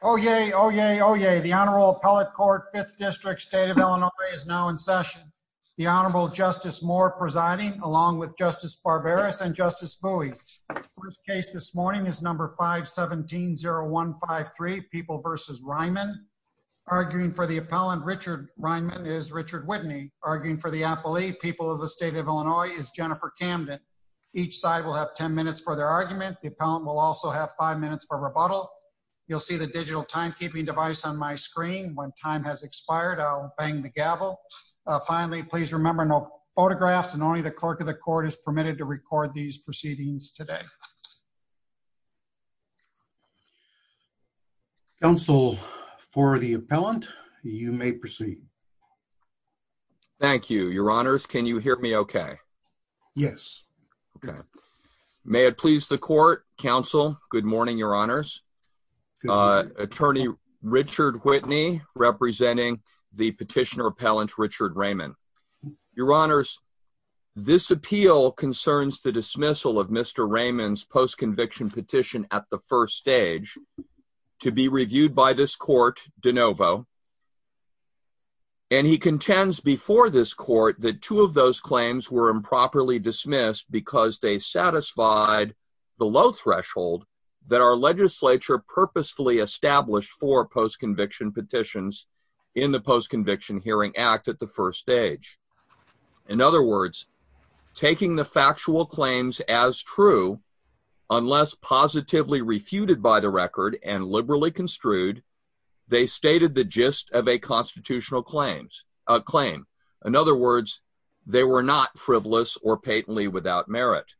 Oh, yay. Oh, yay. Oh, yay. The Honorable Appellate Court, 5th District, State of Illinois is now in session. The Honorable Justice Moore presiding, along with Justice Barbaras and Justice Bowie. First case this morning is number 517-0153, People v. Reiman. Arguing for the appellant, Richard Reiman, is Richard Whitney. Arguing for the appellee, People of the State of Illinois, is Jennifer Camden. Each side will have 10 minutes for their argument. The appellant will also have five minutes for rebuttal. You'll see the digital timekeeping device on my screen. When time has expired, I'll bang the gavel. Finally, please remember no photographs and only the clerk of the court is permitted to record these proceedings today. Counsel for the appellant, you may proceed. Thank you, your honors. Can you hear me okay? Yes. Okay. May it please the court, counsel, good morning, your honors. Attorney Richard Whitney representing the petitioner appellant, Richard Reiman. Your honors, this appeal concerns the dismissal of Mr. Reiman's post-conviction petition at the first stage to be reviewed by this court, de novo, and he contends before this court that two of those claims were improperly dismissed because they satisfied the low threshold that our legislature purposefully established for post-conviction petitions in the Post-Conviction Hearing Act at the first stage. In other words, taking the factual claims as true, unless positively refuted by the record and liberally construed, they stated the gist of a constitutional claim. In other words, they were not frivolous or patently without merit.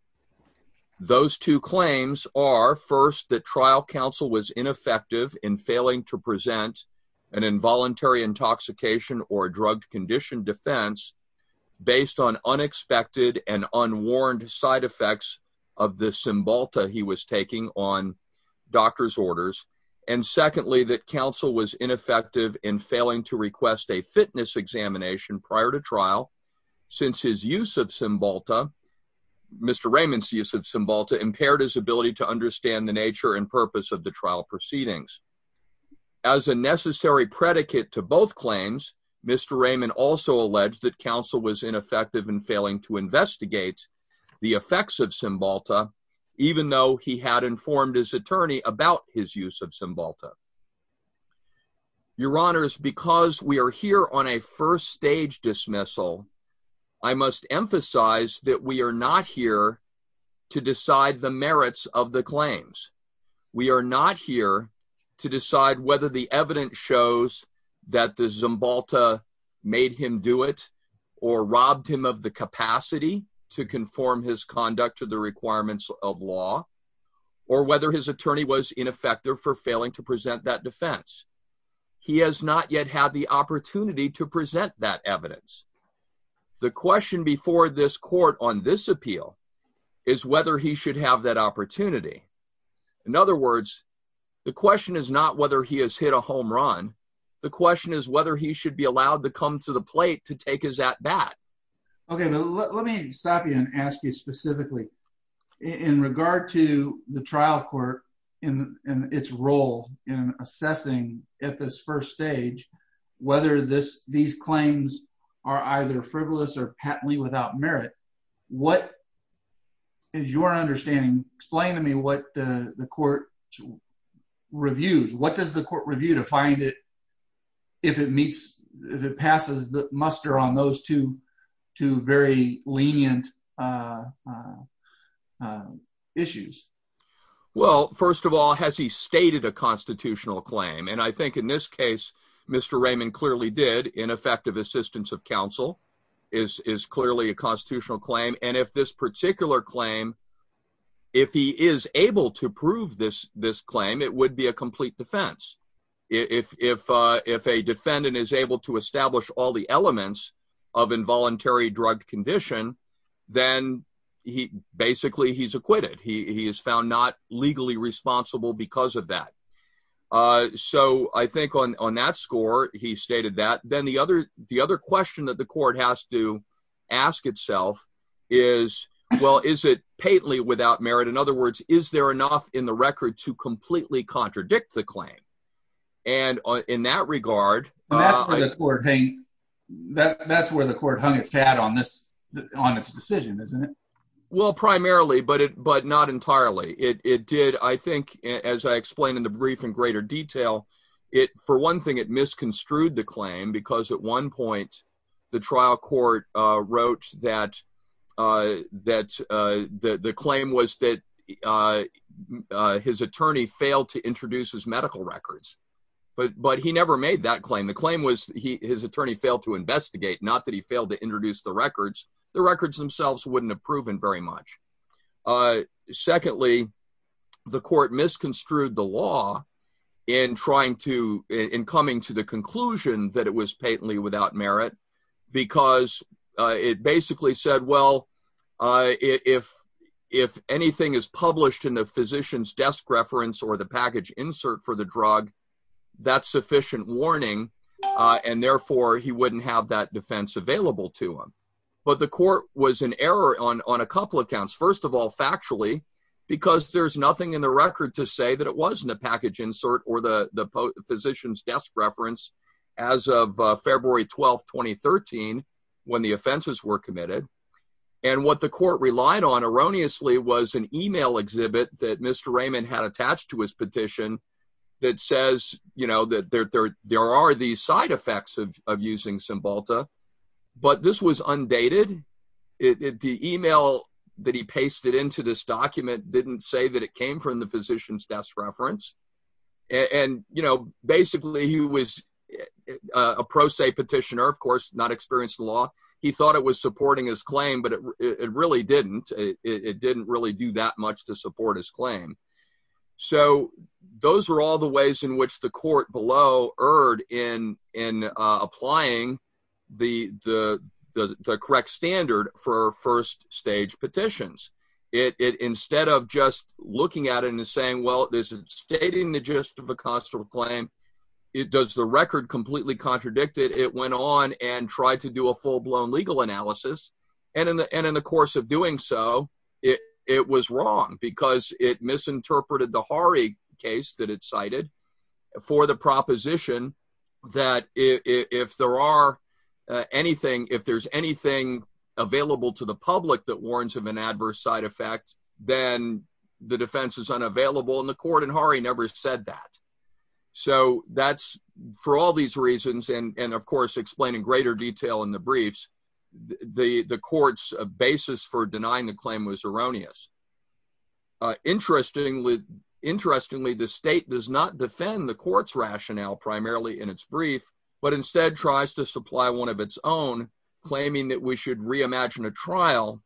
Those two claims are, first, that trial counsel was ineffective in failing to present an involuntary intoxication or drug-conditioned defense based on unexpected and unwarned side effects of the Cymbalta he was taking on doctor's orders, and secondly, that counsel was ineffective in failing to request a fitness examination prior to trial since his use of Cymbalta, Mr. Reiman's use of Cymbalta, impaired his ability to understand the nature and purpose of the trial proceedings. As a necessary predicate to both claims, Mr. Reiman also alleged that counsel was ineffective in failing to investigate the effects of Cymbalta, even though he had informed his attorney about his use of Cymbalta. Your Honors, because we are here on a first stage dismissal, I must emphasize that we are not here to decide the merits of the claims. We are not here to decide whether the evidence shows that the Cymbalta made him do it or robbed him of the capacity to conform his conduct to the requirements of law, or whether his attorney was ineffective for failing to present that defense. He has not yet had the opportunity to present that evidence. The question before this Court on this appeal is whether he should have that opportunity. In other words, the question is not whether he has hit a home run. The question is whether he should be allowed to come to the plate to take his at-bat. Okay, but let me stop you and ask you specifically. In regard to the trial court and its role in assessing at this first stage whether these claims are either frivolous or patently without merit, what is your understanding? Explain to me what the court reviews. What does the court review to find if it meets, if it passes the muster on those two very lenient issues? Well, first of all, has he stated a constitutional claim? And I think in this case, Mr. Raymond clearly did. Ineffective assistance of counsel is clearly a constitutional claim. And if this particular claim, if he is able to prove this claim, it would be a complete defense. If a defendant is able to establish all the elements of involuntary drug condition, then basically he's acquitted. He is found not legally responsible because of that. So I think on that score, he stated that. Then the other question that the court has to ask itself is, well, is it patently without merit? In other words, is there enough in the record to completely contradict the claim? And in that regard... That's where the court hung its hat on its decision, isn't it? Well, primarily, but not entirely. It did, I think, as I explained in the brief in greater detail, for one thing, it misconstrued the claim because at one point the trial court wrote that the claim was that his attorney failed to introduce his medical records. But he never made that claim. The claim was his attorney failed to investigate, not that he failed to introduce the records. The records themselves wouldn't have proven very much. Secondly, the court misconstrued the law in trying to... In coming to the conclusion that it was patently without merit, because it basically said, well, if anything is published in the physician's desk reference or the package insert for the drug, that's sufficient warning. And therefore he wouldn't have that defense available to him. But the court was in error on a couple of counts. First of all, factually, because there's nothing in the record to say that it wasn't a package insert or the physician's desk reference as of February 12th, 2013, when the offenses were committed. And what the court relied on erroneously was an email exhibit that Mr. Raymond had attached to his petition that says that there are these side effects of using Cymbalta, but this was undated. The email that he pasted into this document didn't say that it came from the physician's desk reference. And basically he was a pro se petitioner, of course, not experienced in the law. He thought it was supporting his claim, but it really didn't. It didn't really do that much to support his claim. So those are all the ways in which the court below erred in applying the correct standard for first stage petitions. Instead of just looking at it and saying, well, this is stating the gist of a constable claim, it does the record completely contradicted, it went on and tried to do a full blown legal analysis. And in the course of doing so, it was wrong because it misinterpreted the Hari case that it cited for the proposition that if there are anything, available to the public that warns of an adverse side effect, then the defense is unavailable and the court in Hari never said that. So that's for all these reasons. And of course, explain in greater detail in the briefs, the court's basis for denying the claim was erroneous. Interestingly, the state does not defend the court's rationale primarily in its brief, but instead tries to supply one of its own, claiming that we should reimagine a trial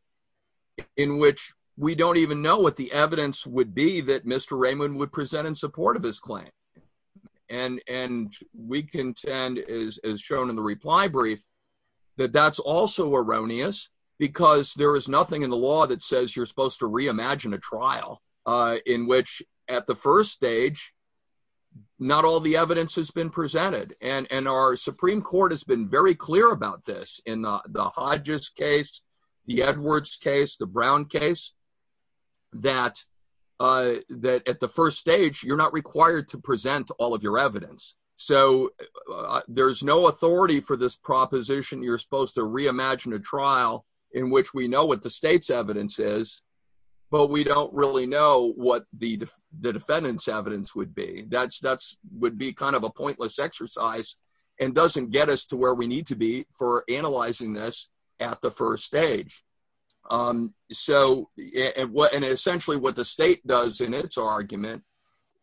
in which we don't even know what the evidence would be that Mr. Raymond would present in support of his claim. And we contend as shown in the reply brief, that that's also erroneous because there is nothing in the law that says you're supposed to reimagine a trial in which at the first stage, not all the evidence has been presented. And our Supreme Court has been very clear about this in the Hodges case, the Edwards case, the Brown case, that at the first stage, you're not required to present all of your evidence. So there's no authority for this proposition. You're supposed to reimagine a trial in which we know what the evidence is, but we don't really know what the defendant's evidence would be. That would be kind of a pointless exercise and doesn't get us to where we need to be for analyzing this at the first stage. And essentially what the state does in its argument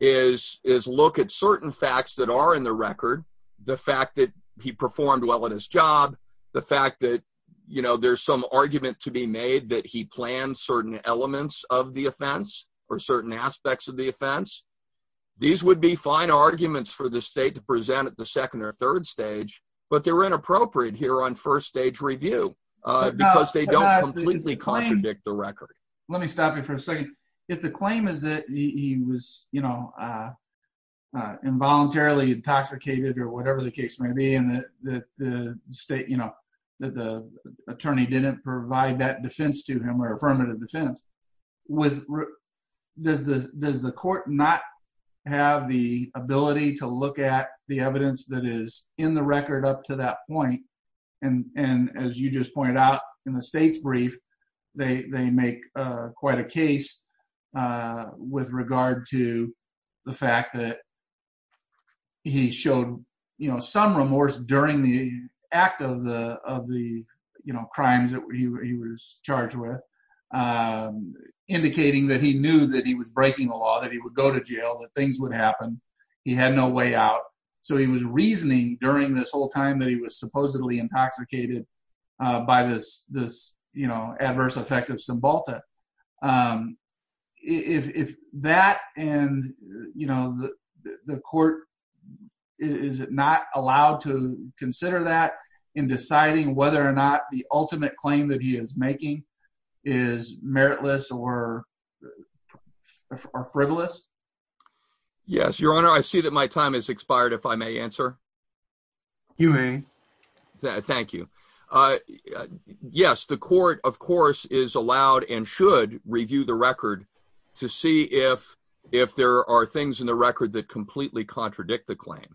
is look at certain facts that are in the record, the fact that he performed well in his job, the fact that there's some argument to be made that he planned certain elements of the offense or certain aspects of the offense. These would be fine arguments for the state to present at the second or third stage, but they're inappropriate here on first stage review because they don't completely contradict the record. Let me stop you for a second. If the claim is that he was involuntarily intoxicated or whatever the case may be, and that the attorney didn't provide that defense to him or affirmative defense, does the court not have the ability to look at the evidence that is in the record up to that point? And as you just pointed out in the state's brief, they make quite a case with regard to the fact that he showed some remorse during the act of the crimes that he was charged with, indicating that he knew that he was breaking the law, that he would go to jail, that things would happen. He had no way out. So he was reasoning during this whole time that he was supposedly intoxicated by this adverse effect of Cymbalta. If that and the court, is it not allowed to consider that in deciding whether or not the ultimate claim that he is making is meritless or frivolous? Yes, your honor. I see that my time has expired. If I may answer. You may. Thank you. Yes, the court, of course, is allowed and should review the record to see if there are things in the record that completely contradict the claim.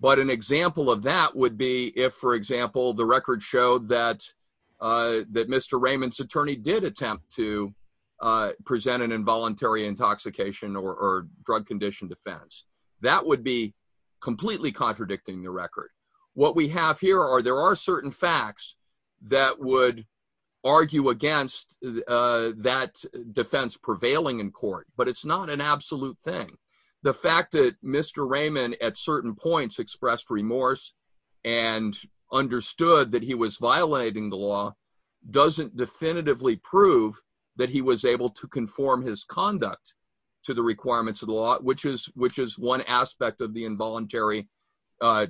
But an example of that would be if, for example, the record showed that Mr. Raymond's attorney did attempt to present an involuntary intoxication or drug condition defense. That would be completely contradicting the record. What we have here are there are certain facts that would argue against that defense prevailing in court, but it's not an absolute thing. The fact that Mr. Raymond at certain points expressed remorse and understood that he was violating the law doesn't definitively that he was able to conform his conduct to the requirements of the law, which is one aspect of the involuntary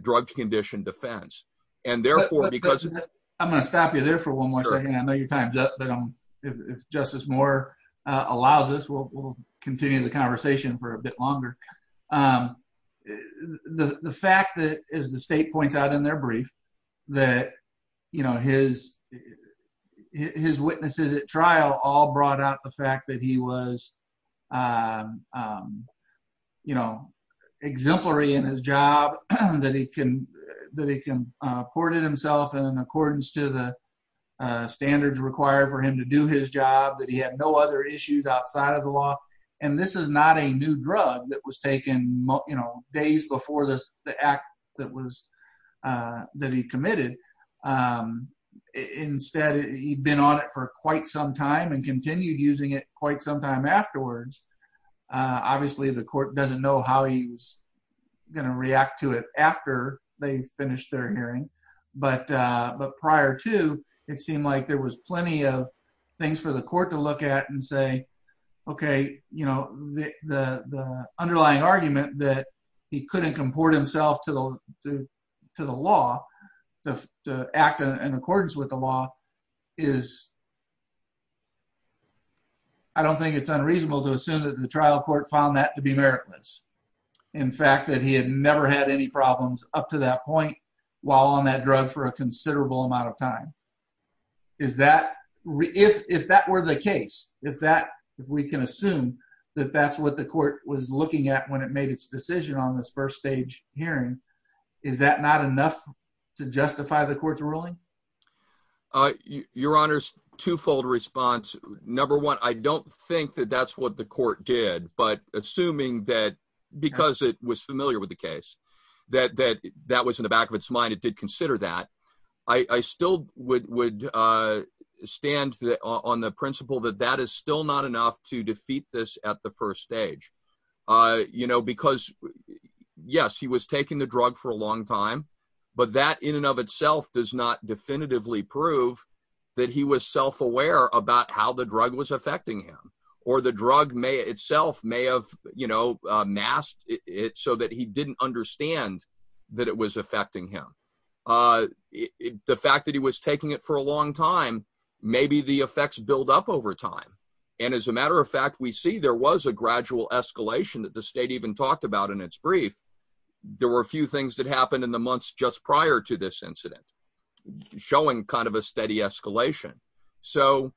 drug condition defense. I'm going to stop you there for one more second. I know your time is up, but if Justice Moore allows us, we'll continue the conversation for a bit longer. The fact that, as the state points out in their brief, that his witnesses at trial all brought out the fact that he was exemplary in his job, that he can courted himself in accordance to the standards required for him to do his job, that he had no other issues outside of the law. This is not a new drug that was taken days before the act that he committed. Instead, he'd been on it for quite some time and continued using it quite some time afterwards. Obviously, the court doesn't know how he's going to react to it after they finished their hearing, but prior to, it seemed like there was plenty of things for the court to look at and say, okay, the underlying argument that he couldn't comport himself to the law, to act in accordance with the law, I don't think it's unreasonable to assume that the trial court found that to be meritless. In fact, that he had never had any problems up to that point while on drug for a considerable amount of time. If that were the case, if we can assume that that's what the court was looking at when it made its decision on this first stage hearing, is that not enough to justify the court's ruling? Your Honor's twofold response. Number one, I don't think that that's what the court did, but assuming that because it was familiar with the case, that that was in the back of its mind, it did consider that, I still would stand on the principle that that is still not enough to defeat this at the first stage. Because yes, he was taking the drug for a long time, but that in and of itself does not definitively prove that he was self-aware about how the drug was affecting him, or the drug itself may have masked it so that he didn't understand that it was affecting him. The fact that he was taking it for a long time, maybe the effects build up over time. And as a matter of fact, we see there was a gradual escalation that the state even talked about in its brief. There were a few things that happened in the months just prior to this incident, showing kind of a steady escalation. So,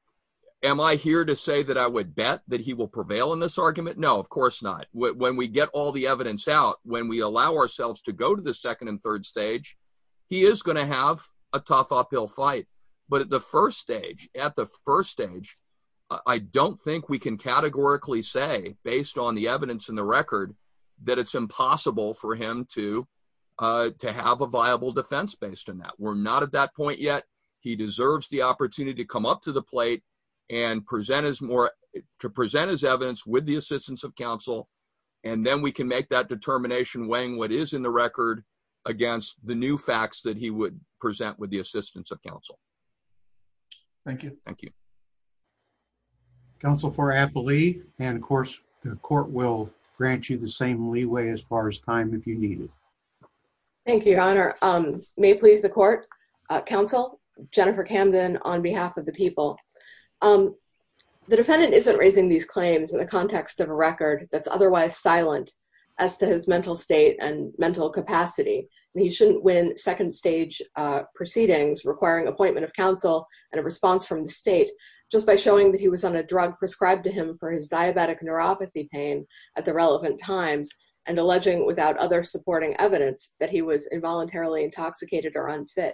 am I here to say that I would bet that he will prevail in this argument? No, of course not. When we get all the evidence out, when we allow ourselves to go to the second and third stage, he is going to have a tough uphill fight. But at the first stage, I don't think we can categorically say, based on the evidence and the record, that it's impossible for him to have a viable defense based on that. We're not at that point yet. He deserves the opportunity to and to present his evidence with the assistance of counsel, and then we can make that determination weighing what is in the record against the new facts that he would present with the assistance of counsel. Thank you. Thank you. Counsel for Applee, and of course the court will grant you the same leeway as far as time if you need it. Thank you, your honor. May it please the court, counsel Jennifer Camden on behalf of the people. The defendant isn't raising these claims in the context of a record that's otherwise silent as to his mental state and mental capacity. He shouldn't win second stage proceedings requiring appointment of counsel and a response from the state just by showing that he was on a drug prescribed to him for his diabetic neuropathy pain at the relevant times and alleging without other supporting evidence that he was involuntarily intoxicated or unfit.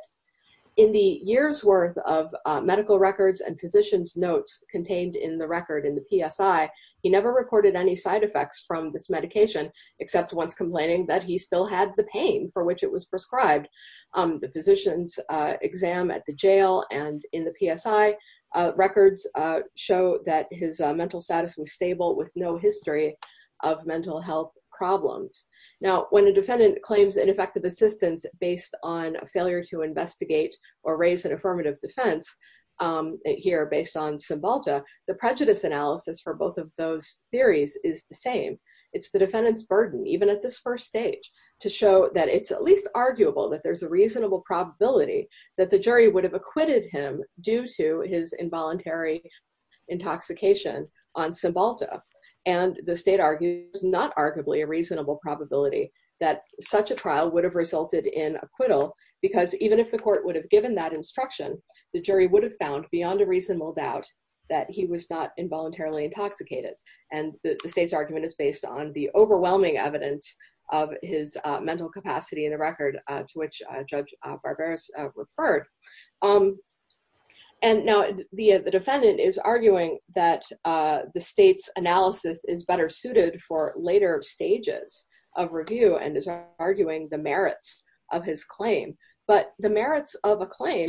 In the year's worth of medical records and physician's notes contained in the record in the PSI, he never recorded any side effects from this medication except once complaining that he still had the pain for which it was prescribed. The physician's exam at the jail and in the PSI records show that his mental status was stable with no history of mental health problems. Now when a defendant claims ineffective assistance based on a failure to investigate or raise an affirmative defense here based on Cymbalta, the prejudice analysis for both of those theories is the same. It's the defendant's burden even at this first stage to show that it's at least arguable that there's a reasonable probability that the jury would have acquitted him due to his involuntary intoxication on Cymbalta and the state argues not arguably a reasonable probability that such a trial would have resulted in acquittal because even if the court would have given that instruction, the jury would have found beyond a reasonable doubt that he was not involuntarily intoxicated and the state's argument is based on the overwhelming evidence of his mental capacity in the record to which Judge Barberos referred. Now the defendant is arguing that the state's analysis is better suited for later stages of review and is arguing the merits of his claim but the merits of a claim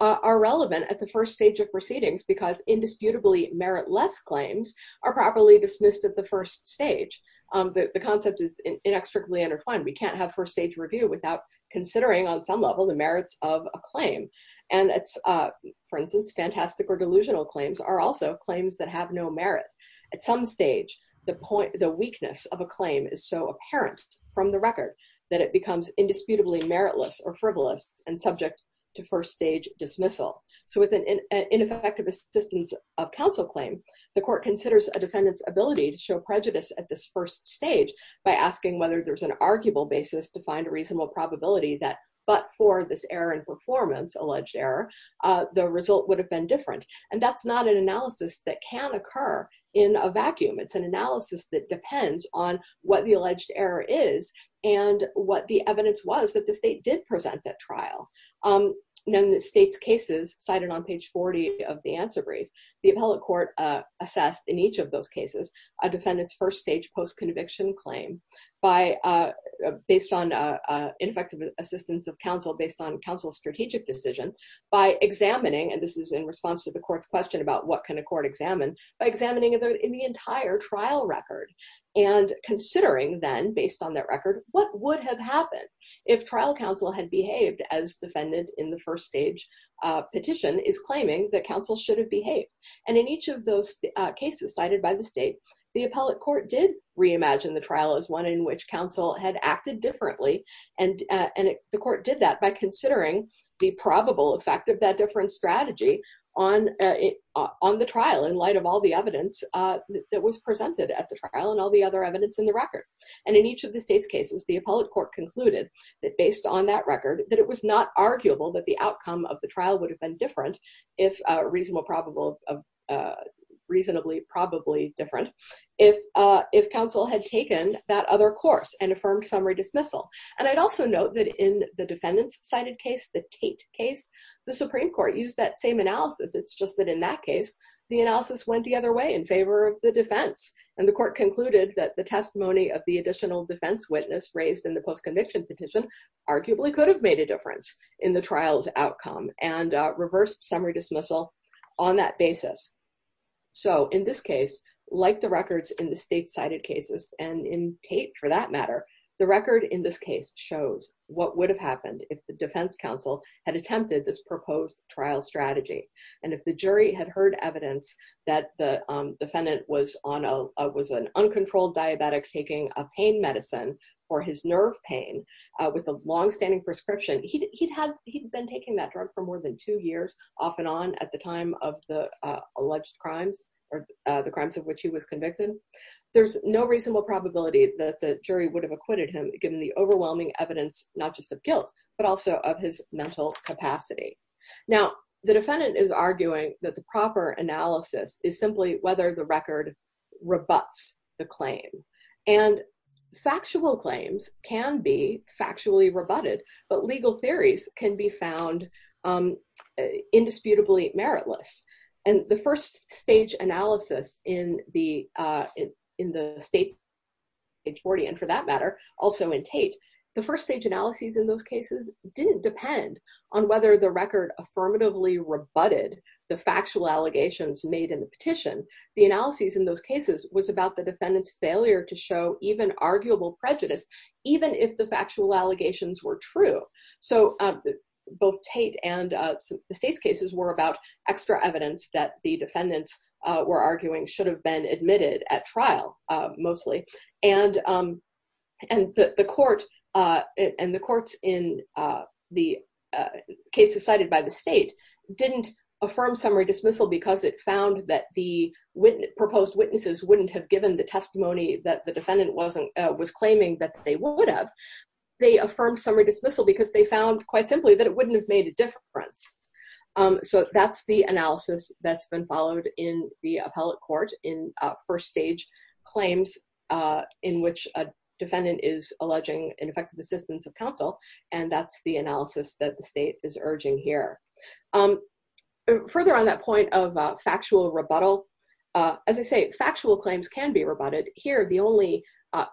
are relevant at the first stage of proceedings because indisputably meritless claims are properly dismissed at the first stage. The concept is inextricably intertwined. We can't have first stage review without considering on some level the merits of a claim and it's for instance fantastic or delusional claims are also claims that have no merit. At some stage the point the weakness of a claim is so apparent from the record that it becomes indisputably meritless or frivolous and subject to first stage dismissal. So with an ineffective assistance of counsel claim, the court considers a defendant's ability to show prejudice at this first stage by asking whether there's an arguable basis to find a reasonable probability that but for this error in performance, alleged error, the result would have been different and that's not an analysis that can occur in a vacuum. It's an analysis that depends on what the alleged error is and what the evidence was that the state did present at trial. In the state's cases cited on page 40 of the answer brief, the appellate court assessed in each of those cases a defendant's first stage post-conviction claim based on ineffective assistance of counsel based on counsel's strategic decision by examining, and this is in response to the court's question about what can a court examine, by examining in the entire trial record and considering then based on that record what would have happened if trial counsel had behaved as defendant in the first stage petition is claiming that counsel should have behaved and in each of those cases cited by the state, the appellate court did reimagine the trial as one in which counsel had acted differently and the court did that by considering the probable effect of that different strategy on the trial in light of all the evidence that was presented at the trial and all the other evidence in the record. And in each of the state's cases, the appellate court concluded that based on that record that it was not arguable that the outcome of the trial would have been if reasonable probable, reasonably probably different if counsel had taken that other course and affirmed summary dismissal. And I'd also note that in the defendant's cited case, the Tate case, the Supreme Court used that same analysis, it's just that in that case the analysis went the other way in favor of the defense and the court concluded that the testimony of the additional defense witness raised in the post-conviction petition arguably could have made a difference in the trial's outcome and reversed summary dismissal on that basis. So in this case, like the records in the state cited cases and in Tate for that matter, the record in this case shows what would have happened if the defense counsel had attempted this proposed trial strategy and if the jury had heard evidence that the defendant was an uncontrolled diabetic taking a pain medicine for his nerve pain with a long-standing prescription, he'd have, he'd been taking that drug for more than two years off and on at the time of the alleged crimes or the crimes of which he was convicted. There's no reasonable probability that the jury would have acquitted him given the overwhelming evidence not just of guilt but also of his mental capacity. Now the defendant is arguing that the proper analysis is simply whether the record rebuts the claim and factual claims can be factually rebutted but legal theories can be found um indisputably meritless and the first stage analysis in the uh in the state's case and for that matter also in Tate, the first stage analyses in those cases didn't depend on whether the record affirmatively rebutted the factual allegations made in the petition. The analyses in those cases was about the defendant's failure to show even arguable prejudice even if the factual allegations were true. So both Tate and uh the state's cases were about extra evidence that the defendants uh were arguing should have been in the case cited by the state didn't affirm summary dismissal because it found that the proposed witnesses wouldn't have given the testimony that the defendant wasn't uh was claiming that they would have. They affirmed summary dismissal because they found quite simply that it wouldn't have made a difference. So that's the analysis that's been followed in the appellate court in first stage claims uh in which a defendant is alleging ineffective assistance of counsel and that's the analysis that the state is urging here. Further on that point of factual rebuttal, as I say factual claims can be rebutted. Here the only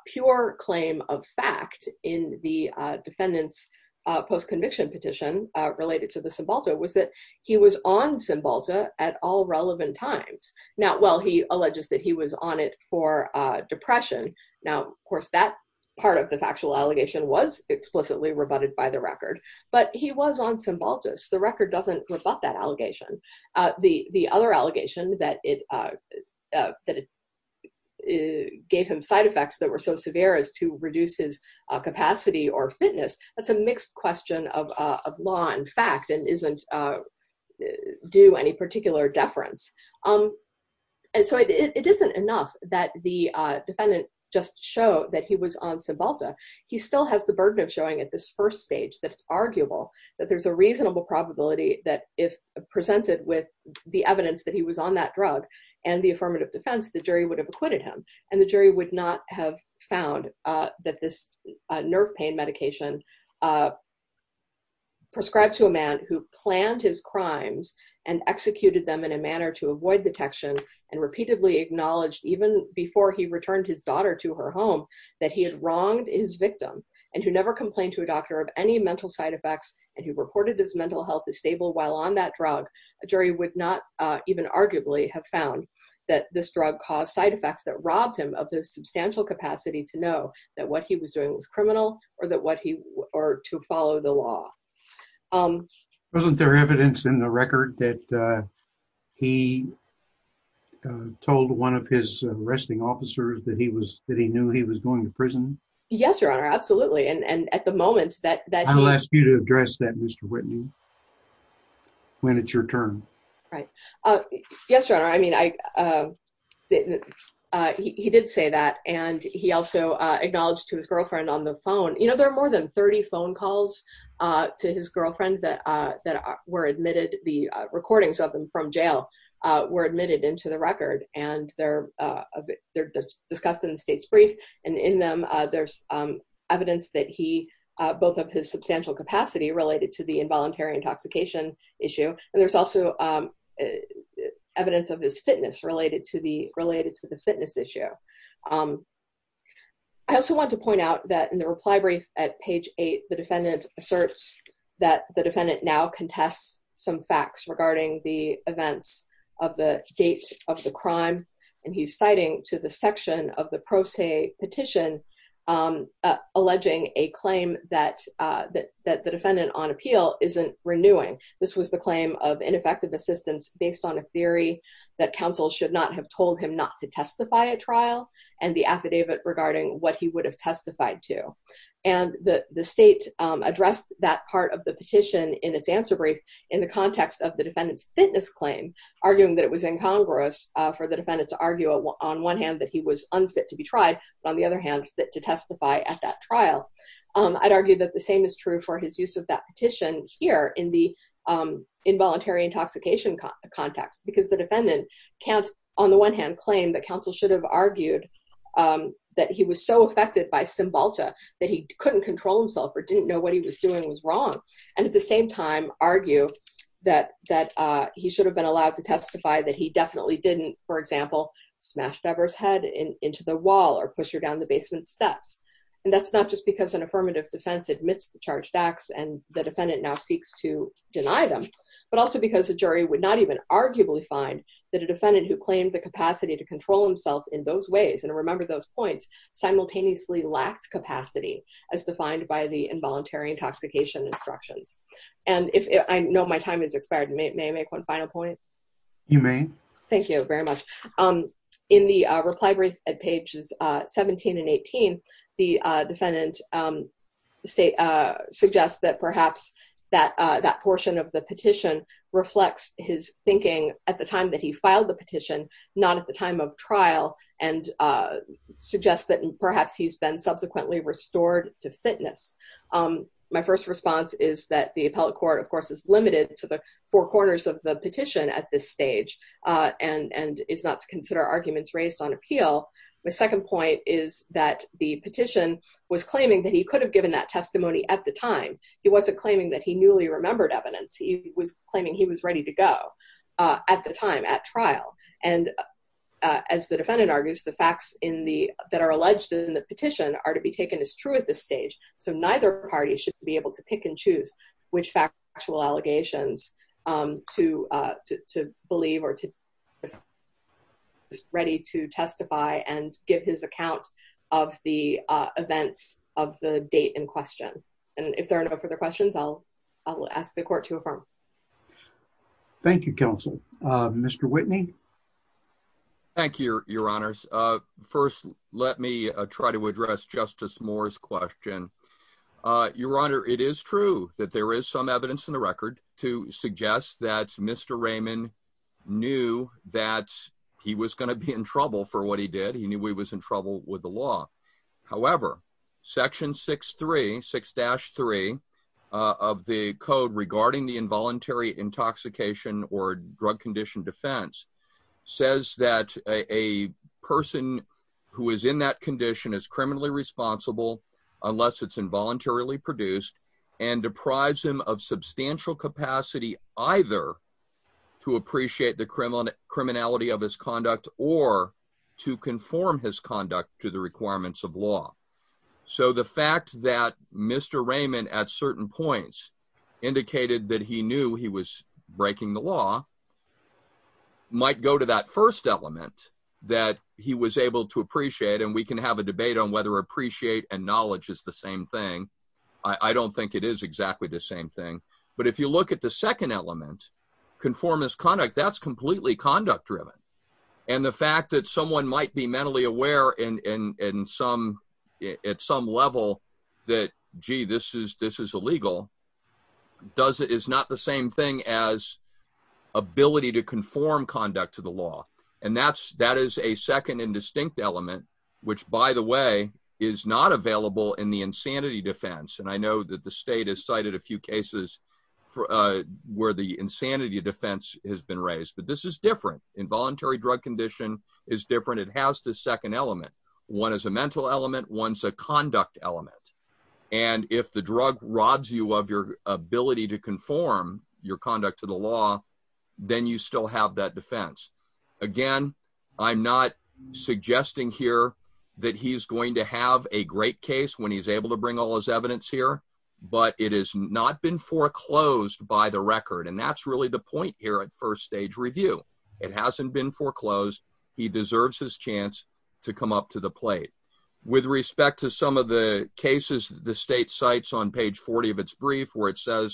pure claim of fact in the defendant's post-conviction petition related to the Cymbalta was that he was on Cymbalta at all relevant times. Now while he alleges that he was on it for depression, now of course that part of the factual allegation was explicitly rebutted by the record, but he was on Cymbaltus. The record doesn't rebut that allegation. Uh the the other allegation that it uh that it gave him side effects that were so severe as to reduce his capacity or fitness, that's a mixed question of uh of law and fact and isn't uh due any particular deference. Um and so it isn't enough that the uh defendant just showed that he was on Cymbalta. He still has the burden of showing at this first stage that it's arguable that there's a reasonable probability that if presented with the evidence that he was on that drug and the affirmative defense, the jury would have acquitted him and the jury would not have found uh that this nerve pain medication uh prescribed to a man who planned his crimes and executed them in a manner to avoid detection and repeatedly acknowledged even before he returned his daughter to her home that he had wronged his victim and who never complained to a doctor of any mental side effects and who reported his mental health is stable while on that drug, a jury would not uh even arguably have found that this drug caused side effects that robbed him of the substantial capacity to know that what he was doing was criminal or that what he or to follow the law. Um wasn't there evidence in the record that uh he uh told one of his arresting officers that he was that he knew he was going to prison? Yes your honor absolutely and and at the moment that that I'll ask you to address that Mr. Whitney when it's your turn. Right uh yes your honor I mean I uh didn't uh he did say that and he also uh acknowledged to his girlfriend on the phone you know there are more than 30 phone calls uh to his girlfriend that uh that were admitted the recordings of them from jail uh were admitted into the record and they're uh they're discussed in the state's brief and in them uh there's um evidence that he uh both of his substantial capacity related to the involuntary intoxication issue and there's also um evidence of his fitness related to the related to the fitness issue. Um I also want to point out that in the reply brief at page eight the defendant asserts that the defendant now contests some facts regarding the events of the date of the crime and he's citing to the section of the pro se petition um alleging a claim that uh that that the defendant on appeal isn't renewing. This was the claim of ineffective assistance based on a theory that counsel should not have told him not to testify at trial and the affidavit regarding what he would have testified to and the the state um addressed that part of the petition in its answer brief in the context of the defendant's fitness claim arguing that it was incongruous uh for the defendant to argue on one hand that he was unfit to be tried but on the other hand fit to testify at that trial. Um I'd argue that the same is true for his use of that petition here in the um involuntary intoxication context because the defendant can't on the one hand claim that counsel should have argued um that he was so affected by Cymbalta that he couldn't control himself or didn't know what he was doing was wrong and at the same time argue that that uh he should have been allowed to testify that he definitely didn't for example smash Dever's head into the wall or push her down the basement steps and that's not just because an defendant now seeks to deny them but also because a jury would not even arguably find that a defendant who claimed the capacity to control himself in those ways and remember those points simultaneously lacked capacity as defined by the involuntary intoxication instructions and if I know my time has expired may I make one final point you may thank you very much um in the uh state uh suggests that perhaps that uh that portion of the petition reflects his thinking at the time that he filed the petition not at the time of trial and uh suggests that perhaps he's been subsequently restored to fitness um my first response is that the appellate court of course is limited to the four corners of the petition at this stage uh and and is not to consider arguments raised on appeal my second point is that the petition was claiming that he could have given that testimony at the time he wasn't claiming that he newly remembered evidence he was claiming he was ready to go uh at the time at trial and uh as the defendant argues the facts in the that are alleged in the petition are to be taken as true at this stage so neither party should be able to testify and give his account of the uh events of the date in question and if there are no further questions i'll i'll ask the court to affirm thank you counsel uh mr whitney thank you your honors uh first let me try to address justice moore's question uh your honor it is true that there is evidence in the record to suggest that mr raymond knew that he was going to be in trouble for what he did he knew he was in trouble with the law however section 6 3 6-3 of the code regarding the involuntary intoxication or drug condition defense says that a person who is in that capacity either to appreciate the criminal criminality of his conduct or to conform his conduct to the requirements of law so the fact that mr raymond at certain points indicated that he knew he was breaking the law might go to that first element that he was able to appreciate and we can have a debate on whether appreciate and knowledge is the same thing i i don't think it is exactly the same thing but if you look at the second element conformist conduct that's completely conduct driven and the fact that someone might be mentally aware in in in some at some level that gee this is this is illegal does it is not the same thing as ability to conform conduct to the law and that's that is a second and distinct element which by the way is not available in the insanity defense and i know that the state has cited a few cases for uh where the insanity defense has been raised but this is different involuntary drug condition is different it has the second element one is a mental element one's a conduct element and if the drug robs you of your ability to conform your conduct to the law then you still have that defense again i'm not suggesting here that he's going to have a great case when he's able to bring all his evidence here but it has not been foreclosed by the record and that's really the point here at first stage review it hasn't been foreclosed he deserves his chance to come up to the plate with respect to some of the cases the state cites on page 40 of its brief where it the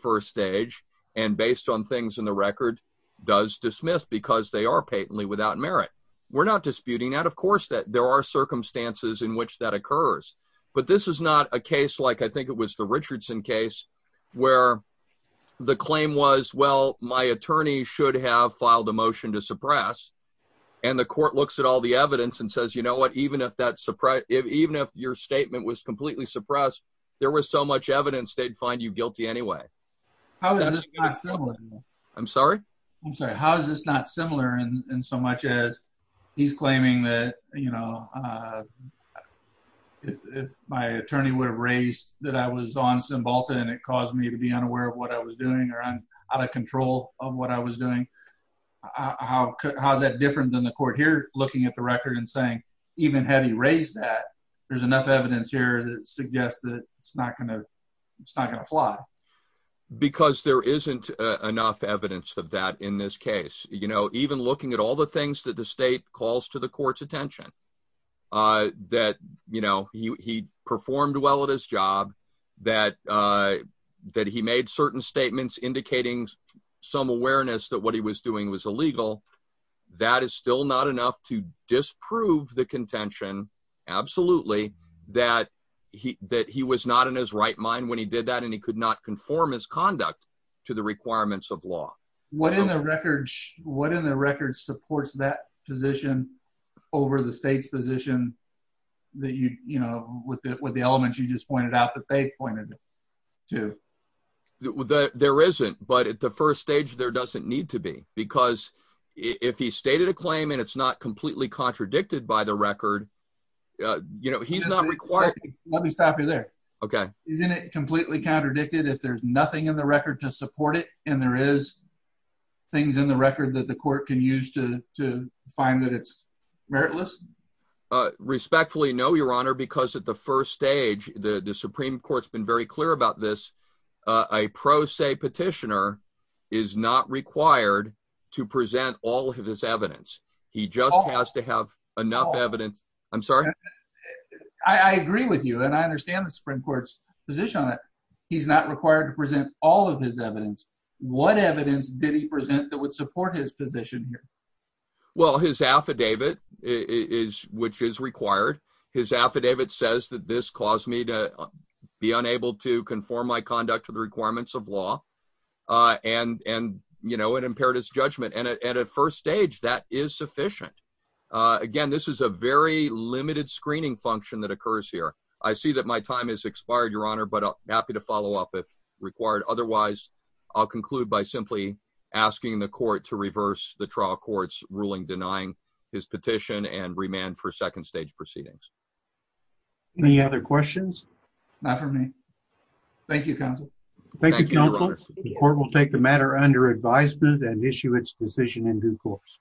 first stage and based on things in the record does dismiss because they are patently without merit we're not disputing that of course that there are circumstances in which that occurs but this is not a case like i think it was the richardson case where the claim was well my attorney should have filed a motion to suppress and the court looks at all the evidence and says you know what even if that's suppressed if even if your statement was completely suppressed there was so much evidence they'd find you guilty anyway how is this not similar i'm sorry i'm sorry how is this not similar in so much as he's claiming that you know uh if my attorney would have raised that i was on cymbalta and it caused me to be unaware of what i was doing or i'm out of control of what i was doing how how's that different than the court here looking at the record and saying even had he raised that there's enough evidence here that suggests that it's not going to it's not going to fly because there isn't enough evidence of that in this case you know even looking at all the things that the state calls to the court's attention uh that you know he performed well at his job that uh that he made certain statements indicating some awareness that he was doing was illegal that is still not enough to disprove the contention absolutely that he that he was not in his right mind when he did that and he could not conform his conduct to the requirements of law what in the records what in the record supports that position over the state's position that you you know with the elements you just pointed out that they pointed to that there isn't but at the first stage there doesn't need to be because if he stated a claim and it's not completely contradicted by the record uh you know he's not required let me stop you there okay isn't it completely contradicted if there's nothing in the record to support it and there is things in the record that the court can use to to find that it's meritless uh respectfully no your honor because at the first stage the the supreme court's been very clear about this a pro se petitioner is not required to present all of his evidence he just has to have enough evidence i'm sorry i i agree with you and i understand the supreme court's position on it he's not required to present all of his evidence what evidence did he present that would support his position here well his affidavit is which is required his affidavit says that this caused me to be unable to conform my conduct to the requirements of law uh and and you know it impaired his judgment and at first stage that is sufficient uh again this is a very limited screening function that occurs here i see that my time has expired your honor but i'm happy to follow up if required otherwise i'll conclude by simply asking the court to reverse the trial court's ruling denying his petition and remand for second stage proceedings any other questions not for me thank you counsel thank you counsel the court will take the matter under advisement and issue its decision in due course